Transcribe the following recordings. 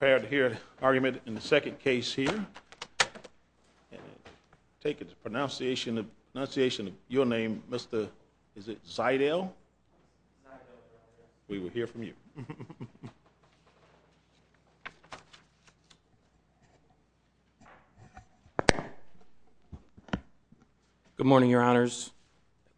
Prepare to hear an argument in the second case here. Take the pronunciation of your name, Mr. Zydel. We will hear from you. Good morning, your honors.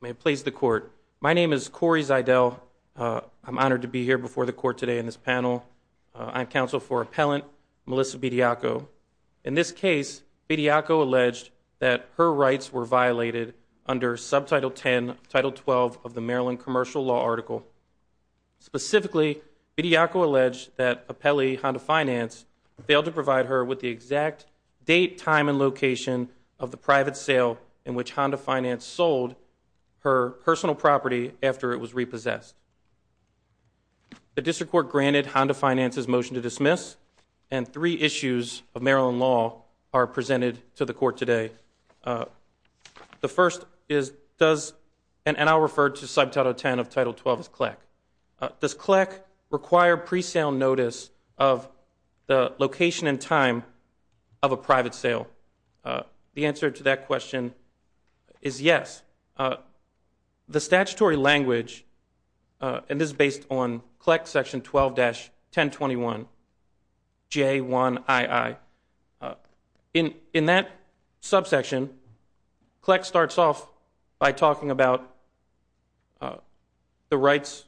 May it please the court. My name is Corey Zydel. I'm honored to be here before the court today in this panel. I'm counsel for appellant Melissa Bediako. In this case, Bediako alleged that her rights were violated under Subtitle 10, Title 12 of the Maryland Commercial Law Article. Specifically, Bediako alleged that appellee Honda Finance failed to provide her with the exact date, time, and location of the private sale in which Honda Finance sold her personal property after it was repossessed. The district court granted Honda Finance's motion to dismiss, and three issues of Maryland law are presented to the court today. The first is, does, and I'll refer to Subtitle 10 of Title 12 as CLEC. Does CLEC require pre-sale notice of the location and time of a private sale? The answer to that question is yes. The statutory language, and this is based on CLEC Section 12-1021, J1II. In that subsection, CLEC starts off by talking about the rights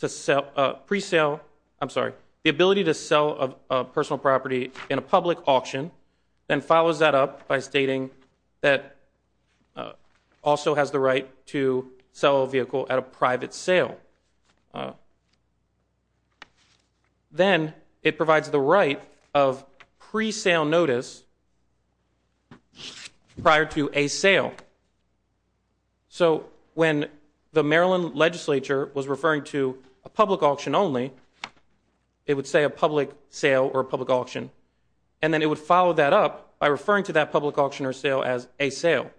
to pre-sale, I'm sorry, the ability to sell a personal property in a public auction, then follows that up by stating that also has the right to sell a vehicle at a private sale. Then, it provides the right of pre-sale notice prior to a sale. So, when the Maryland legislature was referring to a public auction only, it would say a public sale or a public auction, and then it would follow that up by referring to that public auction or sale as a sale.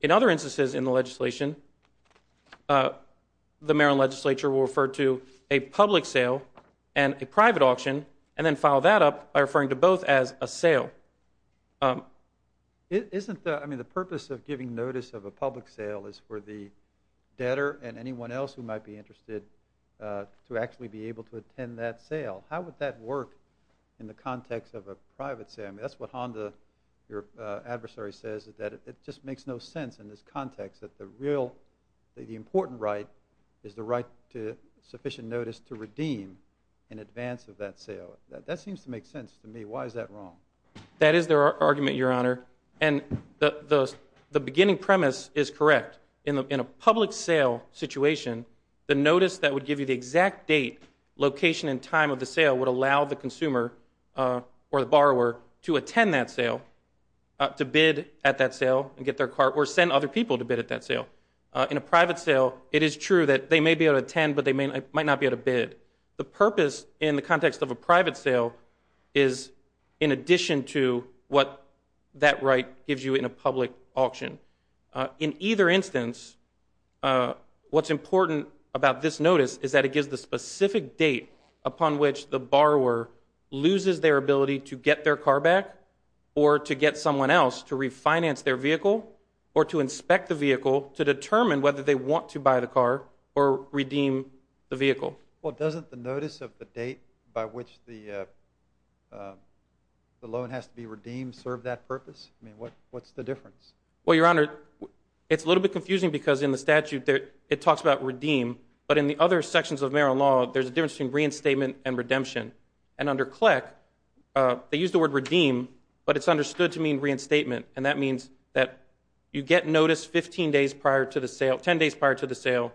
In other instances in the legislation, the Maryland legislature will refer to a public sale and a private auction, and then follow that up by referring to both as a sale. Isn't the purpose of giving notice of a public sale is for the debtor and anyone else who might be interested to actually be able to attend that sale? How would that work in the context of a private sale? I mean, that's what Honda, your adversary, says, that it just makes no sense in this context that the real, the important right is the right to sufficient notice to redeem in advance of that sale. That seems to make sense to me. Why is that wrong? That is their argument, Your Honor, and the beginning premise is correct. In a public sale situation, the notice that would give you the exact date, location, and time of the sale would allow the consumer or the borrower to attend that sale, to bid at that sale and get their cart, or send other people to bid at that sale. In a private sale, it is true that they may be able to attend, but they might not be able to bid. The purpose in the context of a private sale is in addition to what that right gives you in a public auction. In either instance, what's important about this notice is that it gives the specific date upon which the borrower loses their ability to get their car back, or to get someone else to refinance their vehicle, or to inspect the vehicle to determine whether they want to buy the car or redeem the vehicle. Well, doesn't the notice of the date by which the loan has to be redeemed serve that purpose? I mean, what's the difference? Well, Your Honor, it's a little bit confusing because in the statute, it talks about redeem, but in the other sections of Maryland law, there's a difference between reinstatement and redemption. And under CLEC, they use the word redeem, but it's understood to mean reinstatement, and that means that you get notice 15 days prior to the sale, 10 days prior to the sale,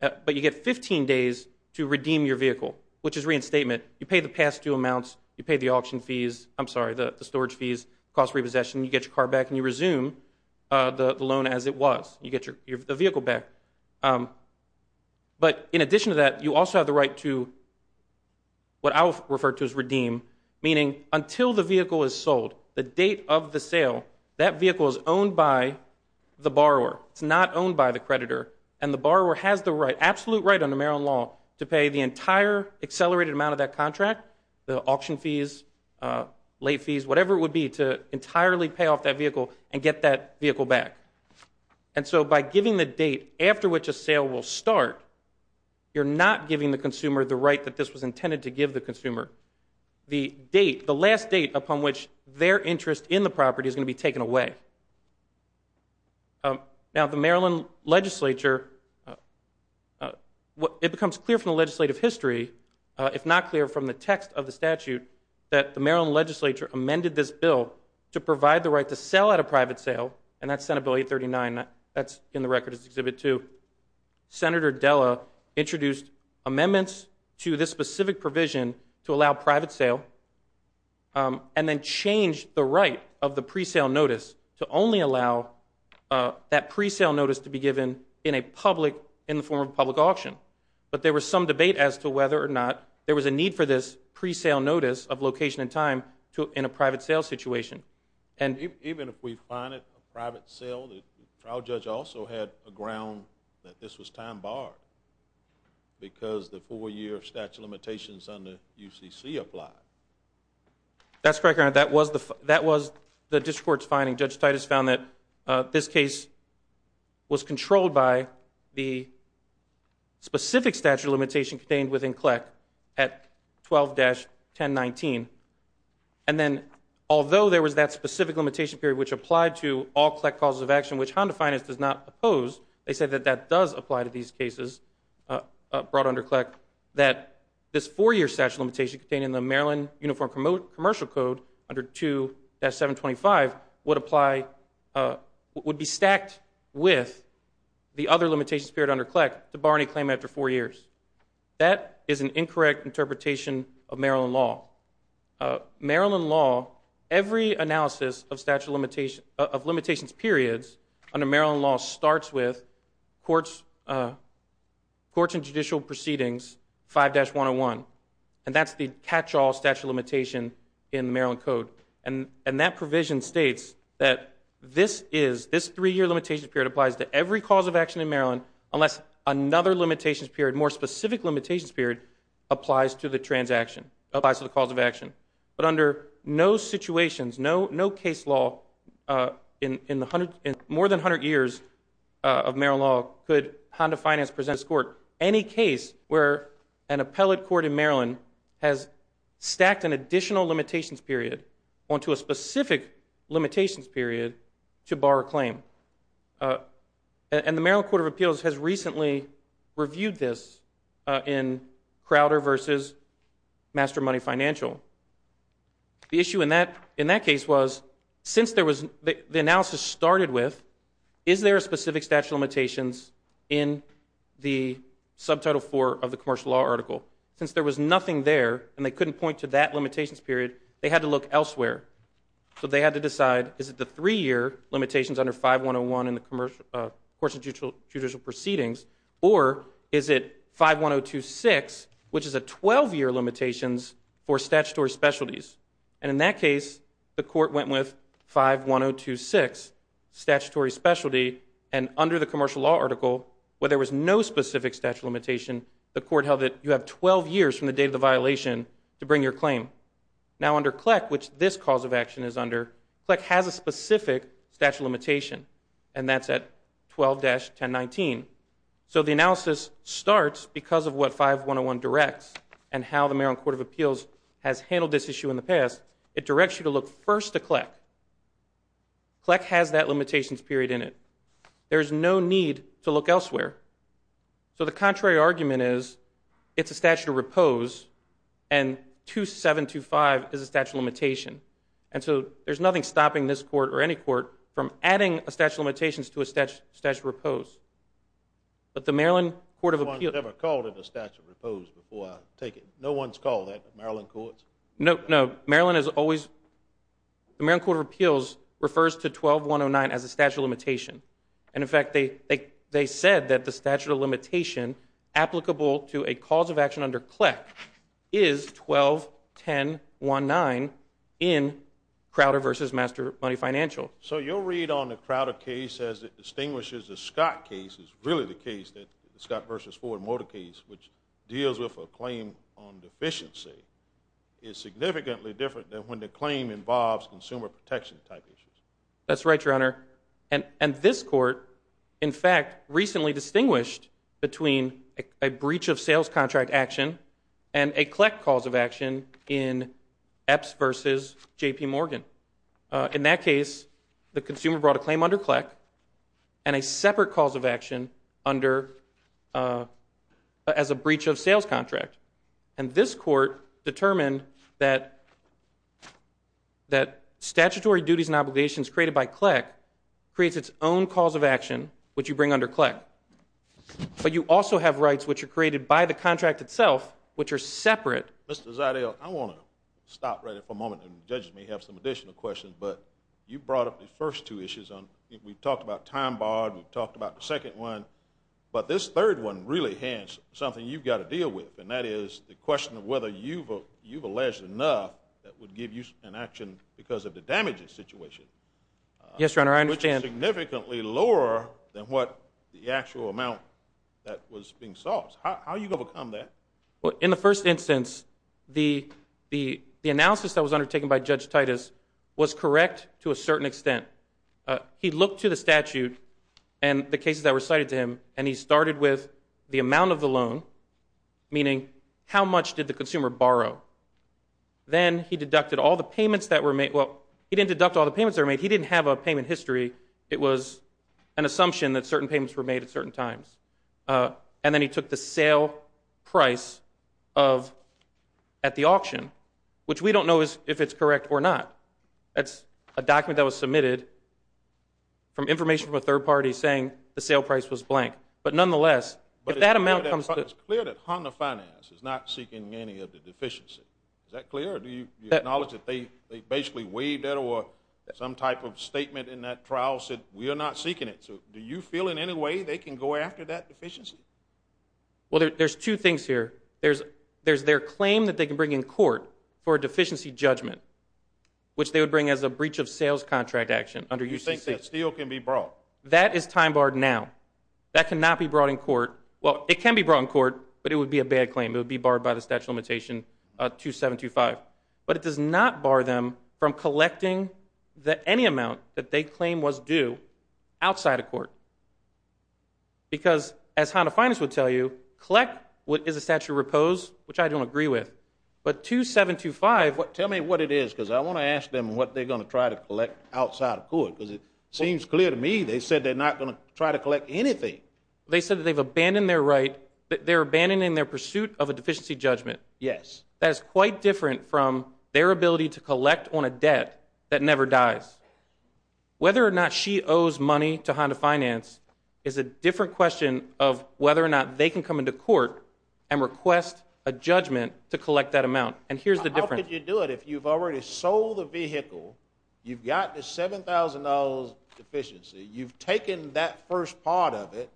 but you get 15 days to redeem your vehicle, which is reinstatement. You pay the past due amounts, you pay the auction fees, I'm sorry, the storage fees, cost repossession, you get your car back, and you resume the loan as it was. You get the vehicle back. But in addition to that, you also have the right to what I'll refer to as redeem, meaning until the vehicle is sold, the date of the sale, that vehicle is owned by the borrower. It's not owned by the creditor, and the borrower has the right, absolute right under Maryland law, to pay the entire accelerated amount of that contract, the auction fees, late fees, whatever it would be to entirely pay off that vehicle and get that vehicle back. And so by giving the date after which a sale will start, you're not giving the consumer the right that this was intended to give the consumer. The date, the last date upon which their interest in the property is going to be taken away. Now, the Maryland legislature, it becomes clear from the legislative history, if not clear from the text of the statute, that the Maryland legislature amended this bill to provide the right to sell at a private sale, and that's Senate Bill 839. That's in the record as Exhibit 2. Senator Della introduced amendments to this specific provision to allow private sale and then changed the right of the presale notice to only allow that presale notice to be given in a public, in the form of a public auction. But there was some debate as to whether or not there was a need for this presale notice of location and time in a private sale situation. Even if we find it a private sale, the trial judge also had a ground that this was time barred because the four-year statute of limitations under UCC applied. That's correct, Your Honor. That was the district court's finding. Judge Titus found that this case was controlled by the specific statute of limitation contained within CLEC at 12-1019. And then, although there was that specific limitation period which applied to all CLEC causes of action, which Honda Finance does not oppose, they said that that does apply to these cases brought under CLEC, that this four-year statute of limitation contained in the Maryland Uniform Commercial Code under 2-725 would apply, would be stacked with the other limitations period under CLEC to bar any claim after four years. That is an incorrect interpretation of Maryland law. Maryland law, every analysis of statute of limitations periods under Maryland law starts with Courts and Judicial Proceedings 5-101. And that's the catch-all statute of limitation in the Maryland Code. And that provision states that this three-year limitation period applies to every cause of action in Maryland unless another limitations period, a more specific limitations period, applies to the transaction, applies to the cause of action. But under no situations, no case law in more than 100 years of Maryland law could Honda Finance present to this Court any case where an appellate court in Maryland has stacked an additional limitations period onto a specific limitations period to bar a claim. And the Maryland Court of Appeals has recently reviewed this in Crowder v. Master Money Financial. The issue in that case was, since the analysis started with, is there a specific statute of limitations in the Subtitle 4 of the commercial law article? Since there was nothing there, and they couldn't point to that limitations period, they had to look elsewhere. So they had to decide, is it the three-year limitations under 5-101 in the Courts and Judicial Proceedings, or is it 5-102-6, which is a 12-year limitations for statutory specialties? And in that case, the Court went with 5-102-6, statutory specialty. And under the commercial law article, where there was no specific statute of limitation, the Court held that you have 12 years from the date of the violation to bring your claim. Now, under CLEC, which this cause of action is under, CLEC has a specific statute of limitation, and that's at 12-1019. So the analysis starts because of what 5-101 directs and how the Maryland Court of Appeals has handled this issue in the past. It directs you to look first to CLEC. CLEC has that limitations period in it. There is no need to look elsewhere. So the contrary argument is, it's a statute of repose, and 2-725 is a statute of limitation. And so there's nothing stopping this Court or any Court from adding a statute of limitations to a statute of repose. But the Maryland Court of Appeals... No one's ever called it a statute of repose before, I take it. No one's called that, the Maryland Courts? No, Maryland has always... The Maryland Court of Appeals refers to 12-109 as a statute of limitation. And, in fact, they said that the statute of limitation applicable to a cause of action under CLEC is 12-1019 in Crowder v. Master Money Financial. So your read on the Crowder case as it distinguishes the Scott case is really the case that the Scott v. Ford Motor case, which deals with a claim on deficiency, is significantly different than when the claim involves consumer protection type issues. That's right, Your Honor. And this Court, in fact, recently distinguished between a breach of sales contract action and a CLEC cause of action in Epps v. J.P. Morgan. In that case, the consumer brought a claim under CLEC and a separate cause of action as a breach of sales contract. And this Court determined that statutory duties and obligations created by CLEC creates its own cause of action, which you bring under CLEC. But you also have rights which are created by the contract itself, which are separate. Mr. Ziedel, I want to stop right here for a moment. And the judges may have some additional questions. But you brought up the first two issues. We've talked about time barred. We've talked about the second one. But this third one really hands something you've got to deal with. And that is the question of whether you've alleged enough that would give you an action because of the damages situation. Yes, Your Honor, I understand. Which is significantly lower than what the actual amount that was being solved. How are you going to overcome that? In the first instance, the analysis that was undertaken by Judge Titus was correct to a certain extent. He looked to the statute and the cases that were cited to him, and he started with the amount of the loan, meaning how much did the consumer borrow. Then he deducted all the payments that were made. Well, he didn't deduct all the payments that were made. He didn't have a payment history. It was an assumption that certain payments were made at certain times. And then he took the sale price at the auction, which we don't know if it's correct or not. That's a document that was submitted from information from a third party saying the sale price was blank. But nonetheless, if that amount comes to – But it's clear that Honda Finance is not seeking any of the deficiency. Is that clear? Do you acknowledge that they basically waived that or some type of statement in that trial said we are not seeking it? So do you feel in any way they can go after that deficiency? Well, there's two things here. There's their claim that they can bring in court for a deficiency judgment, which they would bring as a breach of sales contract action under UCC. You think that steel can be brought? That is time barred now. That cannot be brought in court. Well, it can be brought in court, but it would be a bad claim. It would be barred by the Statute of Limitation 2725. But it does not bar them from collecting any amount that they claim was due outside of court. Because as Honda Finance would tell you, collect is a statute of repose, which I don't agree with. But 2725 – Tell me what it is, because I want to ask them what they're going to try to collect outside of court. Because it seems clear to me they said they're not going to try to collect anything. They said that they've abandoned their right – they're abandoning their pursuit of a deficiency judgment. Yes. That is quite different from their ability to collect on a debt that never dies. Whether or not she owes money to Honda Finance is a different question of whether or not they can come into court and request a judgment to collect that amount. And here's the difference. How could you do it if you've already sold the vehicle, you've got the $7,000 deficiency, you've taken that first part of it,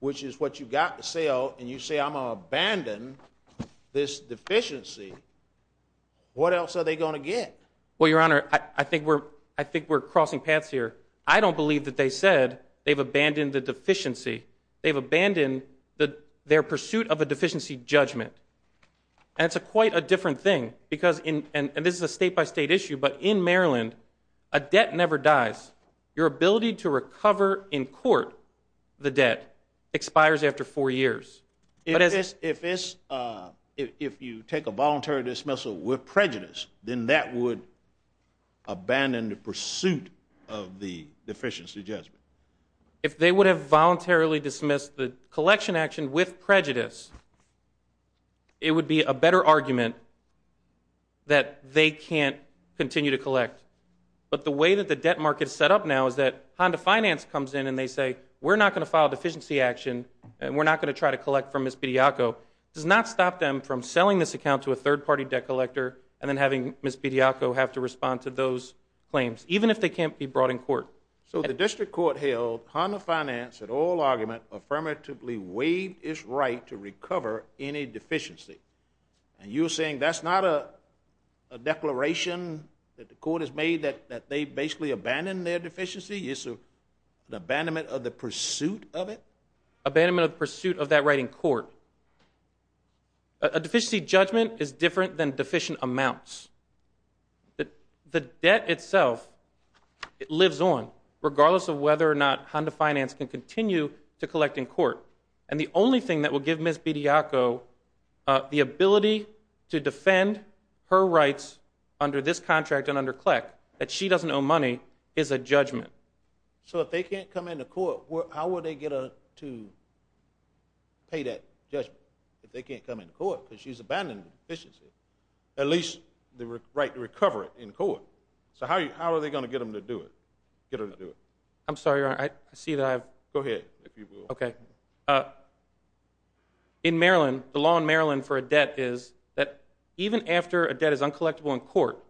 which is what you've got to sell, and you say, I'm going to abandon this deficiency. What else are they going to get? Well, Your Honor, I think we're crossing paths here. I don't believe that they said they've abandoned the deficiency. They've abandoned their pursuit of a deficiency judgment. And it's quite a different thing. And this is a state-by-state issue, but in Maryland, a debt never dies. Your ability to recover in court the debt expires after four years. If you take a voluntary dismissal with prejudice, then that would abandon the pursuit of the deficiency judgment. If they would have voluntarily dismissed the collection action with prejudice, it would be a better argument that they can't continue to collect. But the way that the debt market is set up now is that Honda Finance comes in and they say, we're not going to file a deficiency action, and we're not going to try to collect from Ms. Pediaco. It does not stop them from selling this account to a third-party debt collector and then having Ms. Pediaco have to respond to those claims, even if they can't be brought in court. So the district court held Honda Finance, in all argument, affirmatively waived its right to recover any deficiency. And you're saying that's not a declaration that the court has made that they've basically abandoned their deficiency? It's an abandonment of the pursuit of it? Abandonment of the pursuit of that right in court. A deficiency judgment is different than deficient amounts. The debt itself lives on, regardless of whether or not Honda Finance can continue to collect in court. And the only thing that will give Ms. Pediaco the ability to defend her rights under this contract and under CLEC, that she doesn't owe money, is a judgment. So if they can't come into court, how will they get her to pay that judgment? If they can't come into court, because she's abandoned the deficiency, at least the right to recover it in court. So how are they going to get her to do it? I'm sorry, Your Honor, I see that I've... Go ahead, if you will. Okay. In Maryland, the law in Maryland for a debt is that even after a debt is uncollectible in court,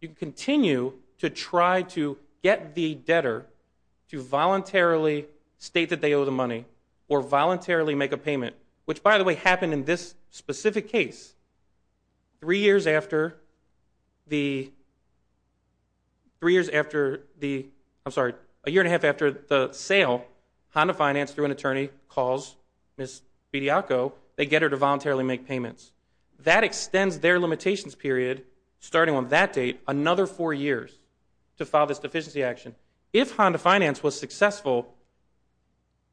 you continue to try to get the debtor to voluntarily state that they owe the money or voluntarily make a payment, which, by the way, happened in this specific case. Three years after the... Three years after the... I'm sorry. A year and a half after the sale, Honda Finance, through an attorney, calls Ms. Pediaco. They get her to voluntarily make payments. That extends their limitations period, starting on that date, another four years to file this deficiency action. If Honda Finance was successful,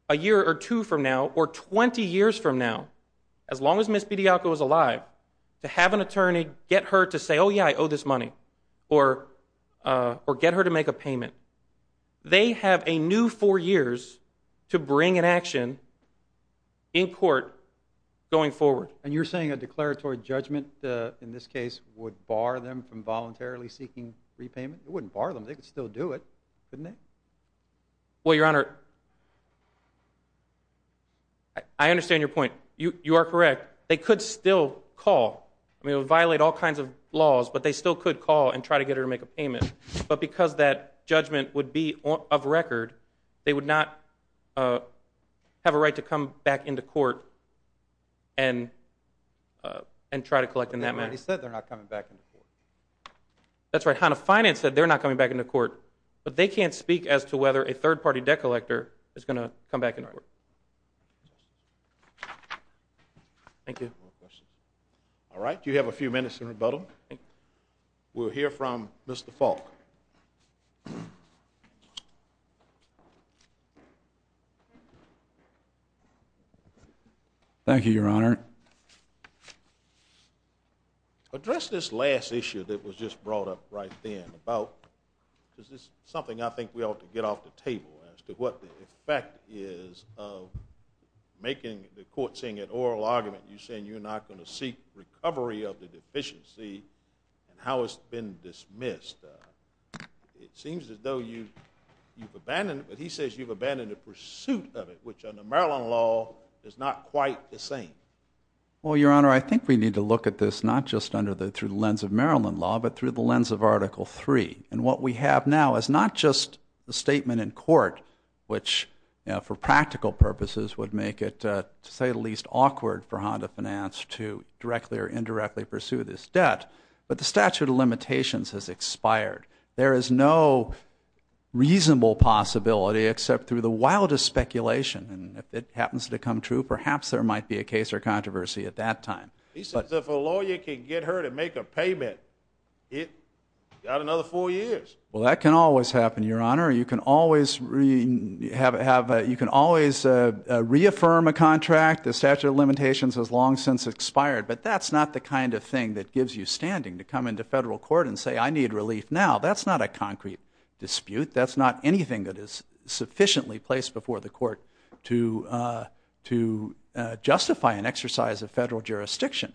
a year or two from now or 20 years from now, as long as Ms. Pediaco is alive, to have an attorney get her to say, oh, yeah, I owe this money or get her to make a payment, they have a new four years to bring an action in court going forward. And you're saying a declaratory judgment in this case would bar them from voluntarily seeking repayment? It wouldn't bar them. They could still do it, couldn't they? Well, Your Honor... I understand your point. You are correct. They could still call. I mean, it would violate all kinds of laws, but they still could call and try to get her to make a payment. But because that judgment would be of record, they would not have a right to come back into court and try to collect in that manner. But they already said they're not coming back into court. That's right. Honda Finance said they're not coming back into court, but they can't speak as to whether a third-party debt collector is going to come back into court. All right. Thank you. All right. You have a few minutes in rebuttal. We'll hear from Mr. Falk. Thank you, Your Honor. Address this last issue that was just brought up right then about something I think we ought to get off the table as to what the effect is of making the court saying in oral argument you're saying you're not going to seek recovery of the deficiency and how it's been dismissed. It seems as though you've abandoned it, but he says you've abandoned the pursuit of it, which under Maryland law is not quite the same. Well, Your Honor, I think we need to look at this not just under the lens of Maryland law, but through the lens of Article 3. And what we have now is not just a statement in court, which for practical purposes would make it, to say the least, awkward for Honda Finance to directly or indirectly pursue this debt, but the statute of limitations has expired. There is no reasonable possibility, except through the wildest speculation. And if it happens to come true, perhaps there might be a case or controversy at that time. He says if a lawyer can get her to make a payment, he's got another four years. Well, that can always happen, Your Honor. You can always reaffirm a contract. The statute of limitations has long since expired. But that's not the kind of thing that gives you standing to come into federal court and say, I need relief now. That's not a concrete dispute. That's not anything that is sufficiently placed before the court to justify an exercise of federal jurisdiction.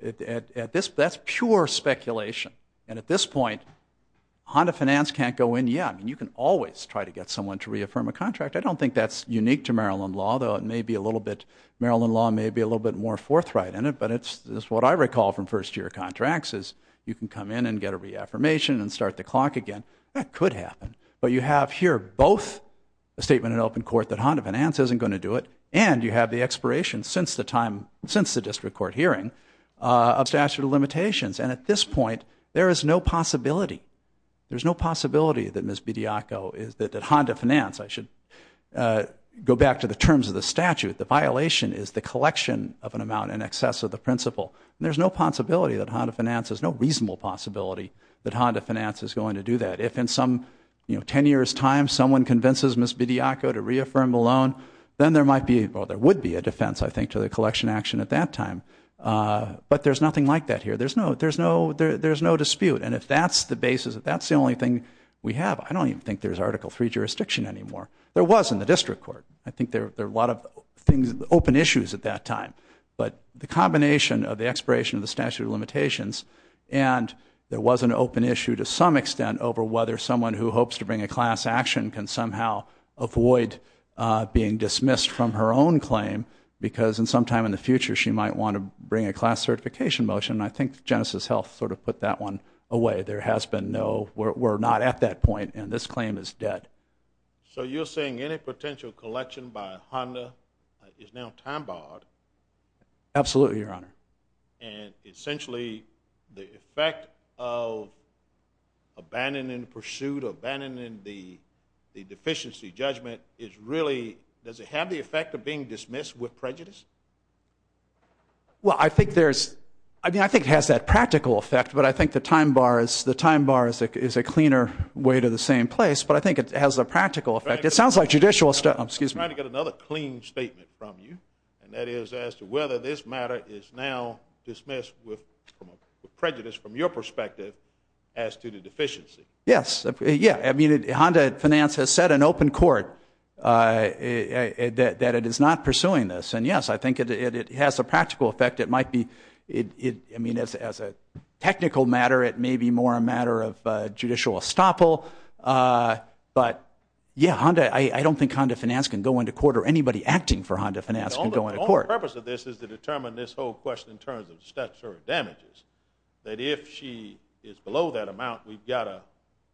That's pure speculation. And at this point, Honda Finance can't go in. Yeah, you can always try to get someone to reaffirm a contract. I don't think that's unique to Maryland law, though it may be a little bit, Maryland law may be a little bit more forthright in it. But it's what I recall from first-year contracts, is you can come in and get a reaffirmation and start the clock again. That could happen. But you have here both a statement in open court that Honda Finance isn't going to do it, and you have the expiration since the time, since the district court hearing of statute of limitations. And at this point, there is no possibility. There's no possibility that Ms. Bidiaco, that Honda Finance, I should go back to the terms of the statute, the violation is the collection of an amount in excess of the principal. There's no possibility that Honda Finance, there's no reasonable possibility that Honda Finance is going to do that. If in some 10 years' time someone convinces Ms. Bidiaco to reaffirm a loan, then there might be, or there would be a defense, I think, to the collection action at that time. But there's nothing like that here. There's no dispute. And if that's the basis, if that's the only thing we have, I don't even think there's Article III jurisdiction anymore. There was in the district court. I think there are a lot of things, open issues at that time. But the combination of the expiration of the statute of limitations and there was an open issue to some extent over whether someone who hopes to bring a class action can somehow avoid being dismissed from her own claim because sometime in the future she might want to bring a class certification motion. I think Genesis Health sort of put that one away. There has been no, we're not at that point, and this claim is dead. So you're saying any potential collection by Honda is now time barred? Absolutely, Your Honor. And essentially the effect of abandoning the pursuit, abandoning the deficiency judgment is really, does it have the effect of being dismissed with prejudice? Well, I think there's, I mean, I think it has that practical effect, but I think the time bar is a cleaner way to the same place. But I think it has a practical effect. It sounds like judicial, excuse me. I'm trying to get another clean statement from you, and that is as to whether this matter is now dismissed with prejudice from your perspective as to the deficiency. Yes, yeah. I mean, Honda Finance has said in open court that it is not pursuing this. And, yes, I think it has a practical effect. It might be, I mean, as a technical matter, it may be more a matter of judicial estoppel. But, yeah, Honda, I don't think Honda Finance can go into court or anybody acting for Honda Finance can go into court. The purpose of this is to determine this whole question in terms of steps or damages, that if she is below that amount, we've got to,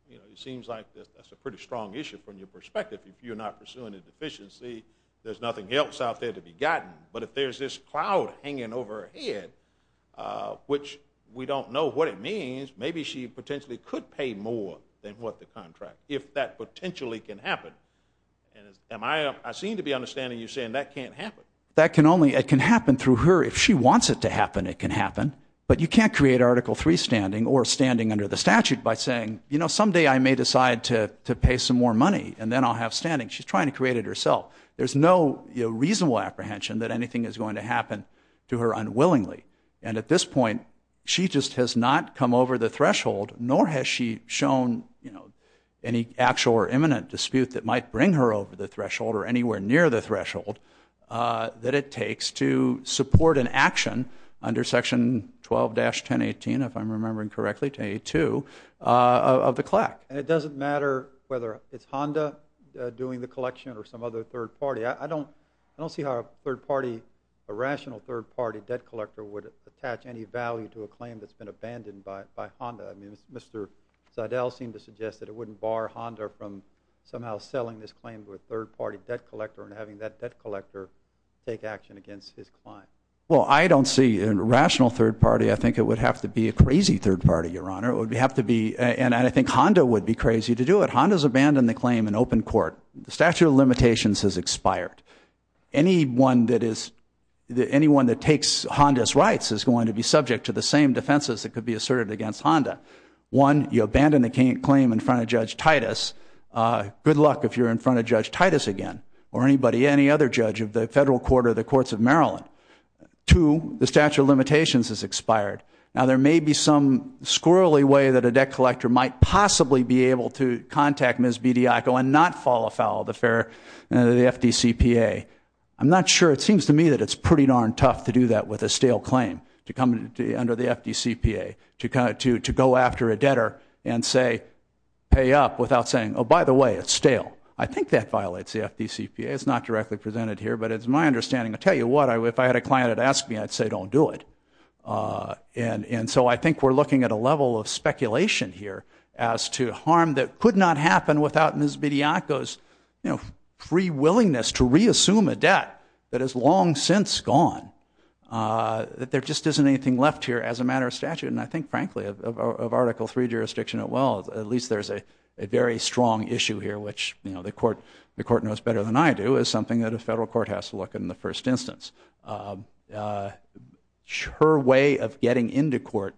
you know, it seems like that's a pretty strong issue from your perspective. If you're not pursuing a deficiency, there's nothing else out there to be gotten. But if there's this cloud hanging over her head, which we don't know what it means, maybe she potentially could pay more than what the contract, if that potentially can happen. I seem to be understanding you saying that can't happen. That can only happen through her. If she wants it to happen, it can happen. But you can't create Article III standing or standing under the statute by saying, you know, someday I may decide to pay some more money, and then I'll have standing. She's trying to create it herself. There's no reasonable apprehension that anything is going to happen to her unwillingly. And at this point, she just has not come over the threshold, nor has she shown, you know, any actual or imminent dispute that might bring her over the threshold or anywhere near the threshold that it takes to support an action under Section 12-1018, if I'm remembering correctly, 1082, of the CLAC. And it doesn't matter whether it's Honda doing the collection or some other third party. I don't see how a third party, a rational third party debt collector, would attach any value to a claim that's been abandoned by Honda. I mean, Mr. Seidel seemed to suggest that it wouldn't bar Honda from somehow selling this claim to a third party debt collector and having that debt collector take action against his client. Well, I don't see a rational third party. I think it would have to be a crazy third party, Your Honor. It would have to be, and I think Honda would be crazy to do it. Honda's abandoned the claim in open court. The statute of limitations has expired. Anyone that takes Honda's rights is going to be subject to the same defenses that could be asserted against Honda. One, you abandon the claim in front of Judge Titus. Good luck if you're in front of Judge Titus again or anybody, any other judge of the federal court or the courts of Maryland. Two, the statute of limitations has expired. Now, there may be some squirrelly way that a debt collector might possibly be able to contact Ms. Bidiaco and not fall afoul of the FDCPA. I'm not sure. It seems to me that it's pretty darn tough to do that with a stale claim, to come under the FDCPA, to go after a debtor and say, pay up without saying, oh, by the way, it's stale. I think that violates the FDCPA. It's not directly presented here, but it's my understanding. I tell you what, if I had a client that asked me, I'd say don't do it. And so I think we're looking at a level of speculation here as to harm that could not happen without Ms. Bidiaco's free willingness to reassume a debt that has long since gone, that there just isn't anything left here as a matter of statute. And I think, frankly, of Article III jurisdiction, well, at least there's a very strong issue here, which the court knows better than I do, is something that a federal court has to look at in the first instance. Her way of getting into court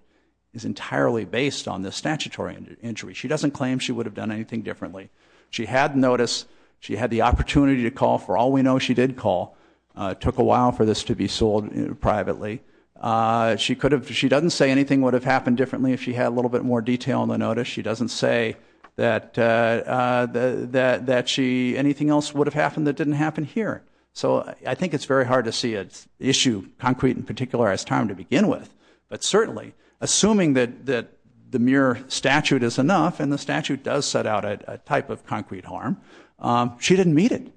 is entirely based on the statutory injury. She doesn't claim she would have done anything differently. She had notice. She had the opportunity to call. For all we know, she did call. It took a while for this to be sold privately. She doesn't say anything would have happened differently if she had a little bit more detail in the notice. She doesn't say that anything else would have happened that didn't happen here. So I think it's very hard to see an issue, concrete in particular, as time to begin with. But certainly, assuming that the mere statute is enough and the statute does set out a type of concrete harm, she didn't meet it.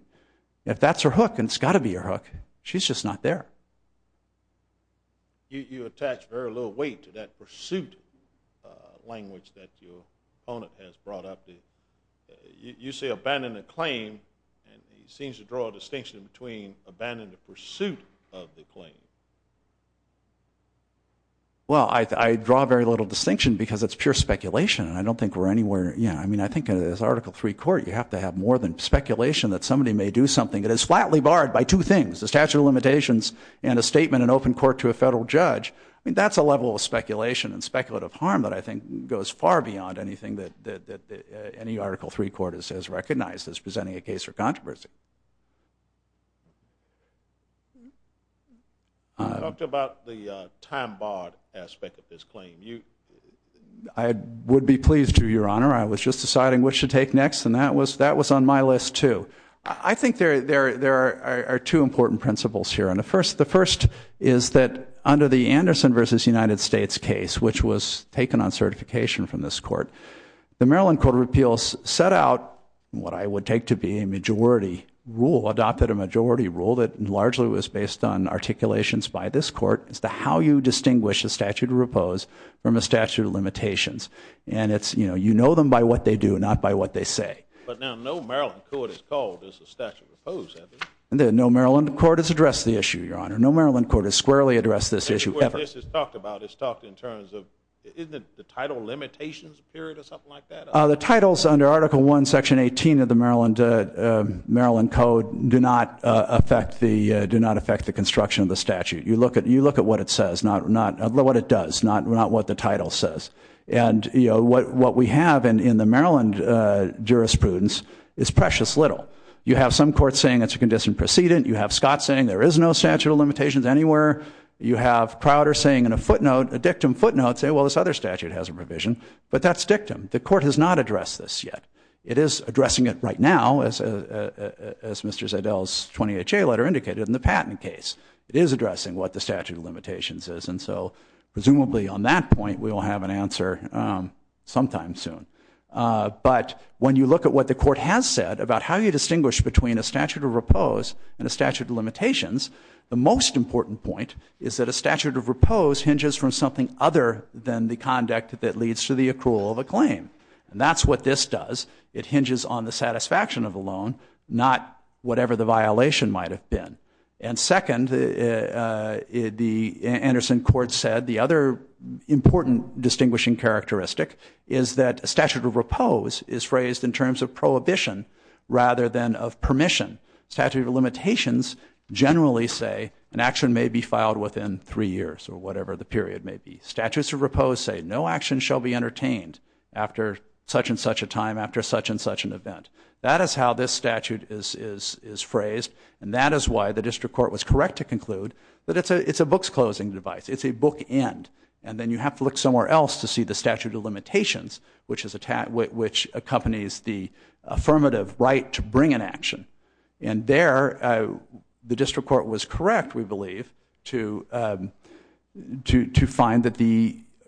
If that's her hook, and it's got to be her hook, she's just not there. You attach very little weight to that pursuit language that your opponent has brought up. You say abandon the claim, and he seems to draw a distinction between abandon the pursuit of the claim. Well, I draw very little distinction because it's pure speculation. I don't think we're anywhere near. I mean, I think in this Article III court, you have to have more than speculation that somebody may do something. It is flatly barred by two things. The statute of limitations and a statement in open court to a federal judge. I mean, that's a level of speculation and speculative harm that I think goes far beyond anything that any Article III court has recognized as presenting a case for controversy. You talked about the time-barred aspect of this claim. I would be pleased to, Your Honor. I was just deciding which to take next, and that was on my list, too. I think there are two important principles here. The first is that under the Anderson v. United States case, which was taken on certification from this court, the Maryland Court of Appeals set out what I would take to be a majority rule, adopted a majority rule that largely was based on articulations by this court as to how you distinguish a statute of repose from a statute of limitations. And it's, you know, you know them by what they do, not by what they say. But now no Maryland court has called this a statute of repose, has it? No Maryland court has addressed the issue, Your Honor. No Maryland court has squarely addressed this issue ever. The issue where this is talked about is talked in terms of, isn't it the title limitations period or something like that? The titles under Article I, Section 18 of the Maryland Code do not affect the construction of the statute. You look at what it says, not what it does, not what the title says. And, you know, what we have in the Maryland jurisprudence is precious little. You have some courts saying it's a condition precedent. You have Scott saying there is no statute of limitations anywhere. You have Crowder saying in a footnote, a dictum footnote, saying, well, this other statute has a provision. But that's dictum. The court has not addressed this yet. It is addressing it right now, as Mr. Zedell's 20HA letter indicated in the patent case. It is addressing what the statute of limitations is. And so presumably on that point we will have an answer sometime soon. But when you look at what the court has said about how you distinguish between a statute of repose and a statute of limitations, the most important point is that a statute of repose hinges from something other than the conduct that leads to the accrual of a claim. And that's what this does. It hinges on the satisfaction of a loan, not whatever the violation might have been. And second, the Anderson court said the other important distinguishing characteristic is that a statute of repose is phrased in terms of prohibition rather than of permission. Statute of limitations generally say an action may be filed within three years or whatever the period may be. Statutes of repose say no action shall be entertained after such and such a time, after such and such an event. That is how this statute is phrased. And that is why the district court was correct to conclude that it's a book's closing device. It's a bookend. And then you have to look somewhere else to see the statute of limitations, which accompanies the affirmative right to bring an action. And there the district court was correct, we believe, to find that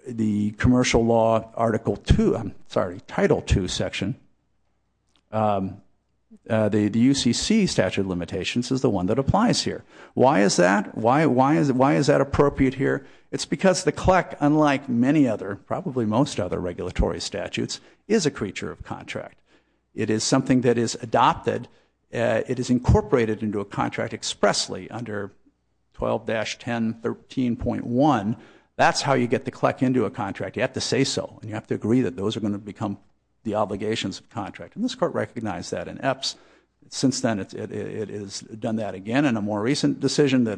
the commercial law Article 2, I'm sorry, Title 2 section, the UCC statute of limitations is the one that applies here. Why is that? Why is that appropriate here? It's because the CLEC, unlike many other, probably most other regulatory statutes, is a creature of contract. It is something that is adopted. It is incorporated into a contract expressly under 12-1013.1. That's how you get the CLEC into a contract. You have to say so. And you have to agree that those are going to become the obligations of contract. And this court recognized that in EPS. Since then it has done that again in a more recent decision, but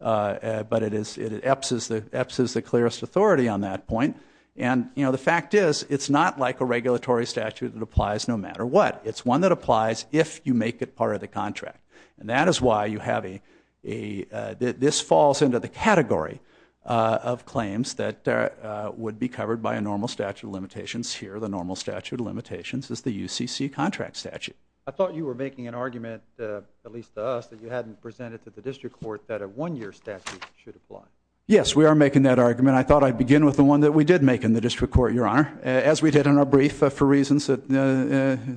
EPS is the clearest authority on that point. And the fact is it's not like a regulatory statute that applies no matter what. It's one that applies if you make it part of the contract. And that is why you have a – this falls into the category of claims that would be covered by a normal statute of limitations here. The normal statute of limitations is the UCC contract statute. I thought you were making an argument, at least to us, that you hadn't presented to the district court that a one-year statute should apply. Yes, we are making that argument. I thought I'd begin with the one that we did make in the district court, Your Honor, as we did in our brief for reasons that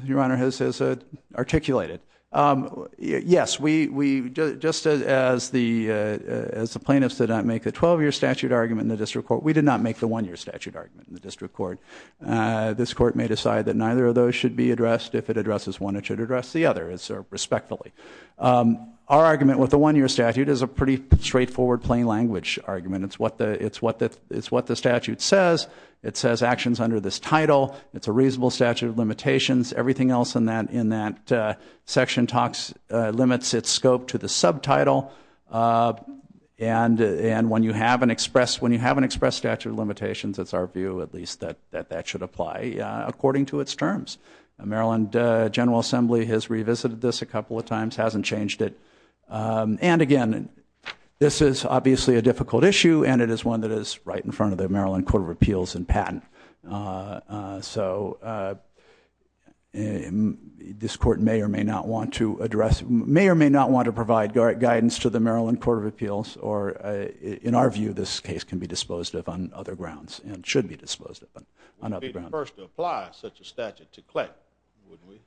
Your Honor has articulated. Yes, just as the plaintiffs did not make the 12-year statute argument in the district court, we did not make the one-year statute argument in the district court. This court may decide that neither of those should be addressed. If it addresses one, it should address the other respectfully. Our argument with the one-year statute is a pretty straightforward plain language argument. It's what the statute says. It says actions under this title. It's a reasonable statute of limitations. Everything else in that section limits its scope to the subtitle. And when you have an expressed statute of limitations, it's our view at least that that should apply according to its terms. Maryland General Assembly has revisited this a couple of times, hasn't changed it. And, again, this is obviously a difficult issue, and it is one that is right in front of the Maryland Court of Appeals and Patent. So this court may or may not want to address, may or may not want to provide guidance to the Maryland Court of Appeals, or in our view, this case can be disposed of on other grounds and should be disposed of on other grounds. We'd be the first to apply such a statute to CLEC, wouldn't we?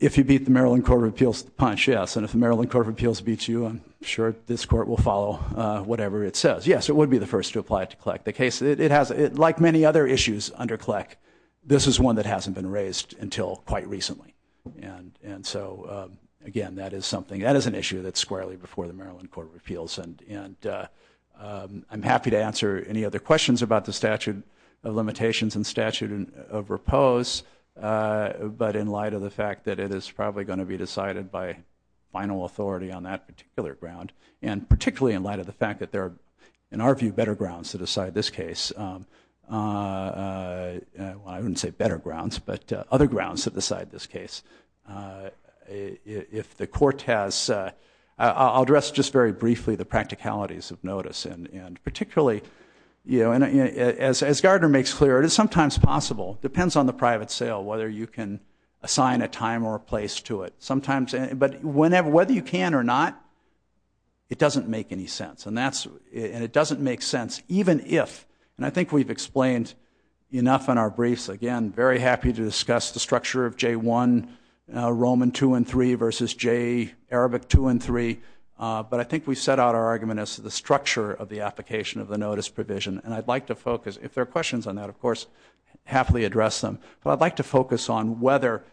If you beat the Maryland Court of Appeals, the punch, yes. And if the Maryland Court of Appeals beats you, I'm sure this court will follow, whatever it says. Yes, it would be the first to apply it to CLEC. Like many other issues under CLEC, this is one that hasn't been raised until quite recently. And so, again, that is an issue that's squarely before the Maryland Court of Appeals. And I'm happy to answer any other questions about the statute of limitations and statute of repose, but in light of the fact that it is probably going to be decided by final authority on that particular ground, and particularly in light of the fact that there are, in our view, better grounds to decide this case. Well, I wouldn't say better grounds, but other grounds to decide this case. If the court has, I'll address just very briefly the practicalities of notice, and particularly, as Gardner makes clear, it is sometimes possible, depends on the private sale, whether you can assign a time or a place to it. But whether you can or not, it doesn't make any sense, and it doesn't make sense even if, and I think we've explained enough in our briefs, again, very happy to discuss the structure of J1, Roman 2 and 3 versus J, Arabic 2 and 3. But I think we've set out our argument as to the structure of the application of the notice provision, and I'd like to focus, if there are questions on that, of course, happily address them. But I'd like to focus on whether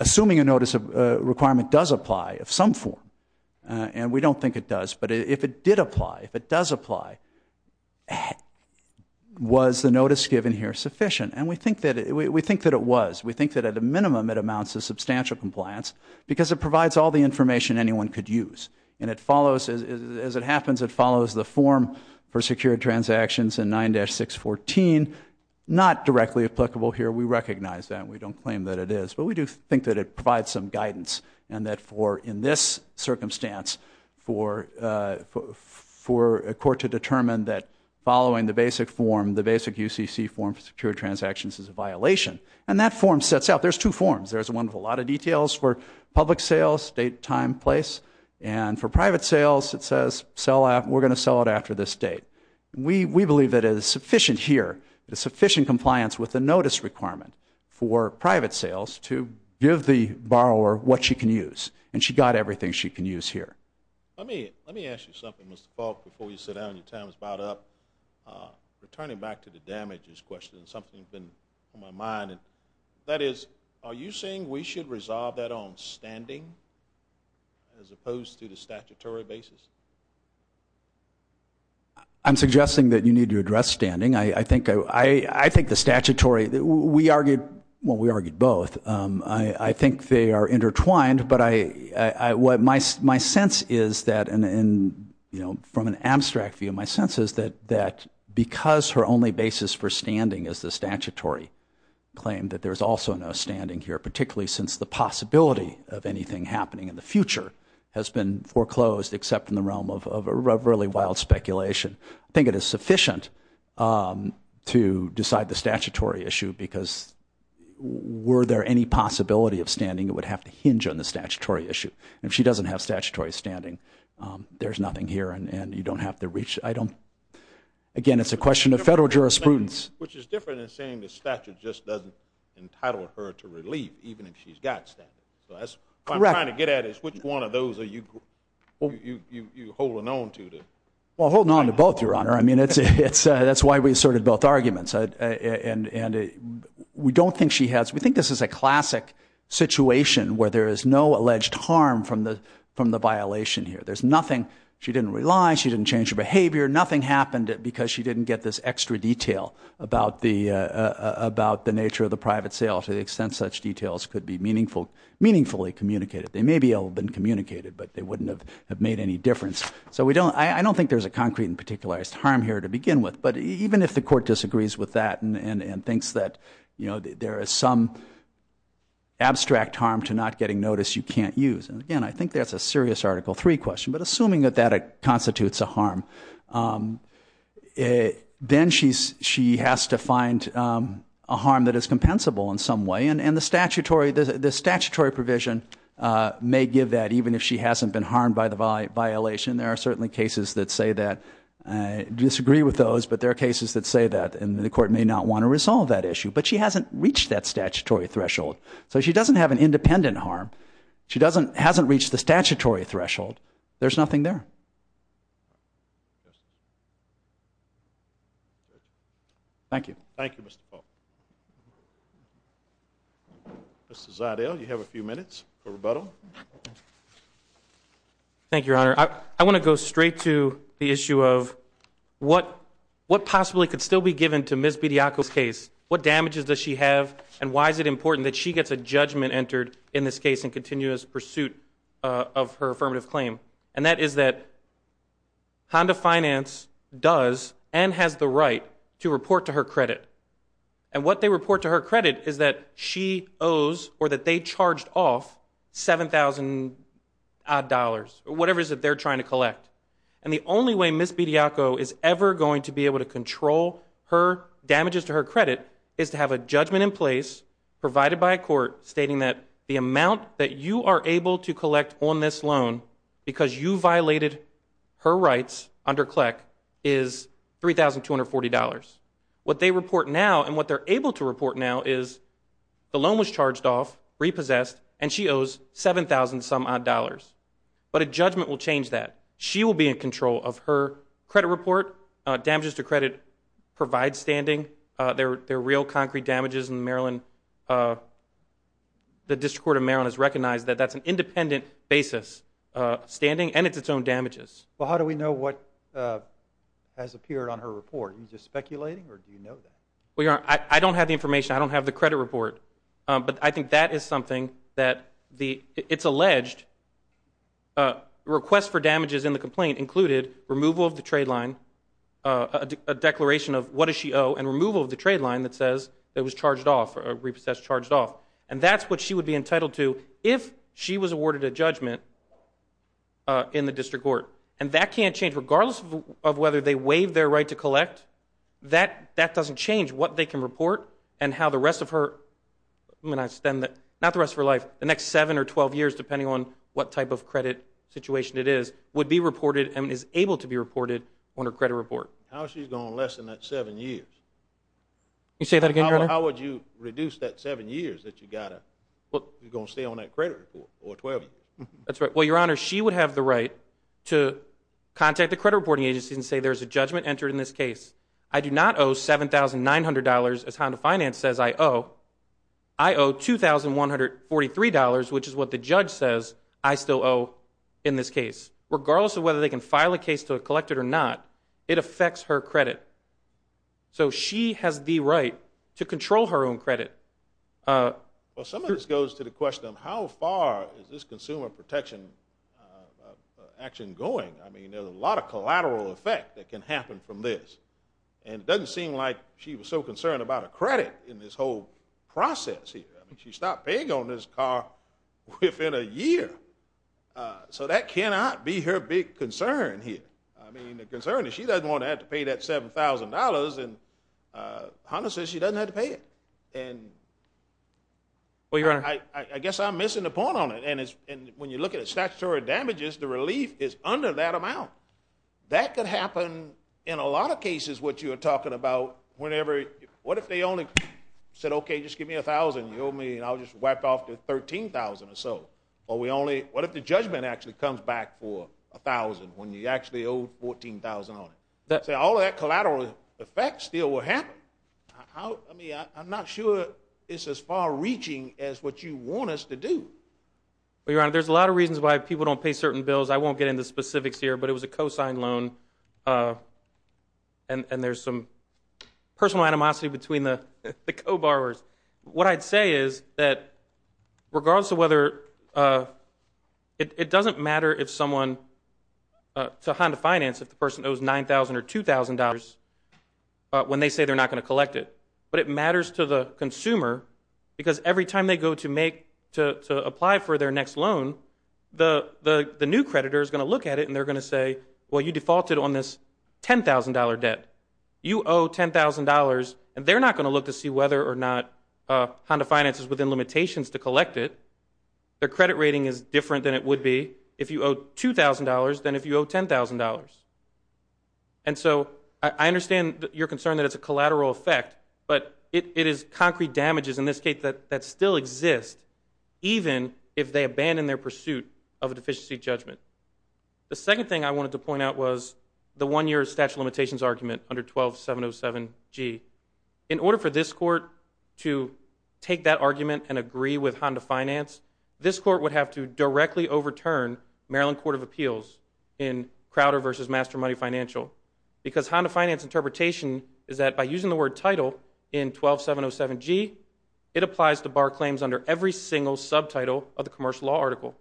assuming a notice requirement does apply of some form, and we don't think it does, but if it did apply, if it does apply, was the notice given here sufficient? And we think that it was. We think that at a minimum it amounts to substantial compliance because it provides all the information anyone could use, and as it happens, it follows the form for secured transactions in 9-614, not directly applicable here. We recognize that. We don't claim that it is, but we do think that it provides some guidance and that in this circumstance for a court to determine that following the basic form, the basic UCC form for secured transactions is a violation, and that form sets out. There's two forms. There's one with a lot of details for public sales, date, time, place, and for private sales it says we're going to sell it after this date. We believe that it is sufficient here, the sufficient compliance with the notice requirement for private sales to give the borrower what she can use, and she got everything she can use here. Let me ask you something, Mr. Faulk, before you sit down and your time is about up. Returning back to the damages question, something's been on my mind, and that is are you saying we should resolve that on standing as opposed to the statutory basis? I'm suggesting that you need to address standing. I think the statutory, we argued, well, we argued both. I think they are intertwined, but my sense is that from an abstract view, my sense is that because her only basis for standing is the statutory claim, that there's also no standing here, particularly since the possibility of anything happening in the future has been foreclosed except in the realm of really wild speculation. I think it is sufficient to decide the statutory issue because were there any possibility of standing, it would have to hinge on the statutory issue. If she doesn't have statutory standing, there's nothing here, and you don't have to reach item. Again, it's a question of federal jurisprudence. Which is different than saying the statute just doesn't entitle her to relief, even if she's got standing. What I'm trying to get at is which one of those are you holding on to? Well, I'm holding on to both, Your Honor. That's why we asserted both arguments. We think this is a classic situation where there is no alleged harm from the violation here. There's nothing. She didn't rely. She didn't change her behavior. Nothing happened because she didn't get this extra detail about the nature of the private sale to the extent such details could be meaningfully communicated. They may be able to have been communicated, but they wouldn't have made any difference. I don't think there's a concrete and particularized harm here to begin with, but even if the court disagrees with that and thinks that there is some abstract harm to not getting notice you can't use. Again, I think that's a serious Article III question, but assuming that that constitutes a harm, then she has to find a harm that is compensable in some way, and the statutory provision may give that, even if she hasn't been harmed by the violation. There are certainly cases that say that. I disagree with those, but there are cases that say that, and the court may not want to resolve that issue. But she hasn't reached that statutory threshold, so she doesn't have an independent harm. She hasn't reached the statutory threshold. There's nothing there. Thank you. Thank you, Mr. Pope. Mr. Zardel, you have a few minutes for rebuttal. Thank you, Your Honor. I want to go straight to the issue of what possibly could still be given to Ms. Bediako's case. What damages does she have, and why is it important that she gets a judgment entered in this case in continuous pursuit of her affirmative claim? And that is that Honda Finance does and has the right to report to her credit. And what they report to her credit is that she owes or that they charged off $7,000-odd, or whatever it is that they're trying to collect. And the only way Ms. Bediako is ever going to be able to control her damages to her credit is to have a judgment in place provided by a court stating that the amount that you are able to collect on this loan because you violated her rights under CLEC is $3,240. What they report now and what they're able to report now is the loan was charged off, repossessed, and she owes $7,000-odd. But a judgment will change that. She will be in control of her credit report. Her damages to credit provide standing. They're real concrete damages in Maryland. The District Court of Maryland has recognized that that's an independent basis standing, and it's its own damages. Well, how do we know what has appeared on her report? Are you just speculating, or do you know that? I don't have the information. I don't have the credit report. But I think that is something that it's alleged. Requests for damages in the complaint included removal of the trade line, a declaration of what does she owe, and removal of the trade line that says it was charged off, repossessed, charged off. And that's what she would be entitled to if she was awarded a judgment in the district court. And that can't change. Regardless of whether they waive their right to collect, that doesn't change what they can report and how the rest of her life, not the rest of her life, the next 7 or 12 years, depending on what type of credit situation it is, would be reported and is able to be reported on her credit report. How is she going to lessen that 7 years? Can you say that again, Your Honor? How would you reduce that 7 years that you've got to stay on that credit report for 12 years? That's right. Well, Your Honor, she would have the right to contact the credit reporting agency and say there's a judgment entered in this case. I do not owe $7,900, as Honda Finance says I owe. I owe $2,143, which is what the judge says I still owe in this case. Regardless of whether they can file a case to collect it or not, it affects her credit. So she has the right to control her own credit. Well, some of this goes to the question of how far is this consumer protection action going? I mean, there's a lot of collateral effect that can happen from this. And it doesn't seem like she was so concerned about her credit in this whole process here. I mean, she stopped paying on this car within a year. So that cannot be her big concern here. I mean, the concern is she doesn't want to have to pay that $7,000, and Honda says she doesn't have to pay it. Well, Your Honor. I guess I'm missing the point on it. And when you look at statutory damages, the relief is under that amount. That could happen in a lot of cases, what you were talking about. What if they only said, okay, just give me $1,000, and you owe me, and I'll just wipe off the $13,000 or so? What if the judgment actually comes back for $1,000 when you actually owe $14,000 on it? So all of that collateral effect still will happen. I mean, I'm not sure it's as far-reaching as what you want us to do. Well, Your Honor, there's a lot of reasons why people don't pay certain bills. I won't get into specifics here, but it was a co-signed loan, and there's some personal animosity between the co-borrowers. What I'd say is that regardless of whether it doesn't matter to Honda Finance if the person owes $9,000 or $2,000 when they say they're not going to collect it, but it matters to the consumer because every time they go to apply for their next loan, the new creditor is going to look at it, and they're going to say, well, you defaulted on this $10,000 debt. You owe $10,000, and they're not going to look to see whether or not Honda Finance is within limitations to collect it. Their credit rating is different than it would be if you owe $2,000 than if you owe $10,000. And so I understand your concern that it's a collateral effect, but it is concrete damages in this case that still exist even if they abandon their pursuit of a deficiency judgment. The second thing I wanted to point out was the one-year statute of limitations argument under 12707G. In order for this court to take that argument and agree with Honda Finance, this court would have to directly overturn Maryland Court of Appeals in Crowder v. Master Money Financial because Honda Finance interpretation is that by using the word title in 12707G, it applies to bar claims under every single subtitle of the commercial law article.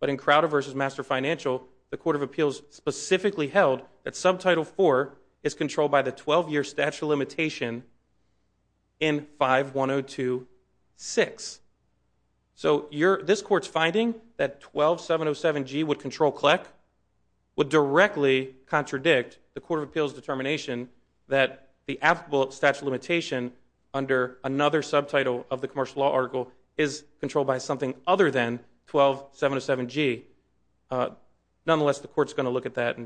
But in Crowder v. Master Financial, the Court of Appeals specifically held that subtitle 4 is controlled by the 12-year statute of limitation in 51026. So this court's finding that 12707G would control CLEC would directly contradict the Court of Appeals determination that the applicable statute of limitation under another subtitle of the commercial law article is controlled by something other than 12707G. Nonetheless, the court's going to look at that.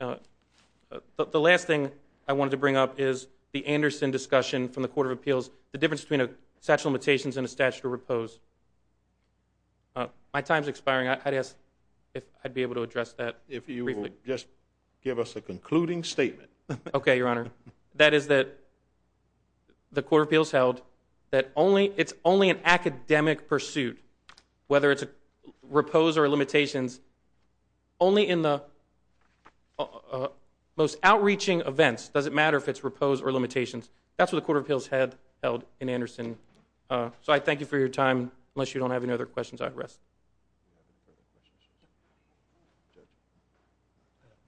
The last thing I wanted to bring up is the Anderson discussion from the Court of Appeals, the difference between a statute of limitations and a statute of repose. My time's expiring. I'd ask if I'd be able to address that briefly. Maybe you will just give us a concluding statement. Okay, Your Honor. That is that the Court of Appeals held that it's only an academic pursuit, whether it's repose or limitations, only in the most outreaching events. It doesn't matter if it's repose or limitations. That's what the Court of Appeals had held in Anderson. So I thank you for your time. Unless you don't have any other questions, I rest.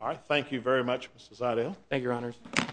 All right. Thank you very much, Mr. Zidell.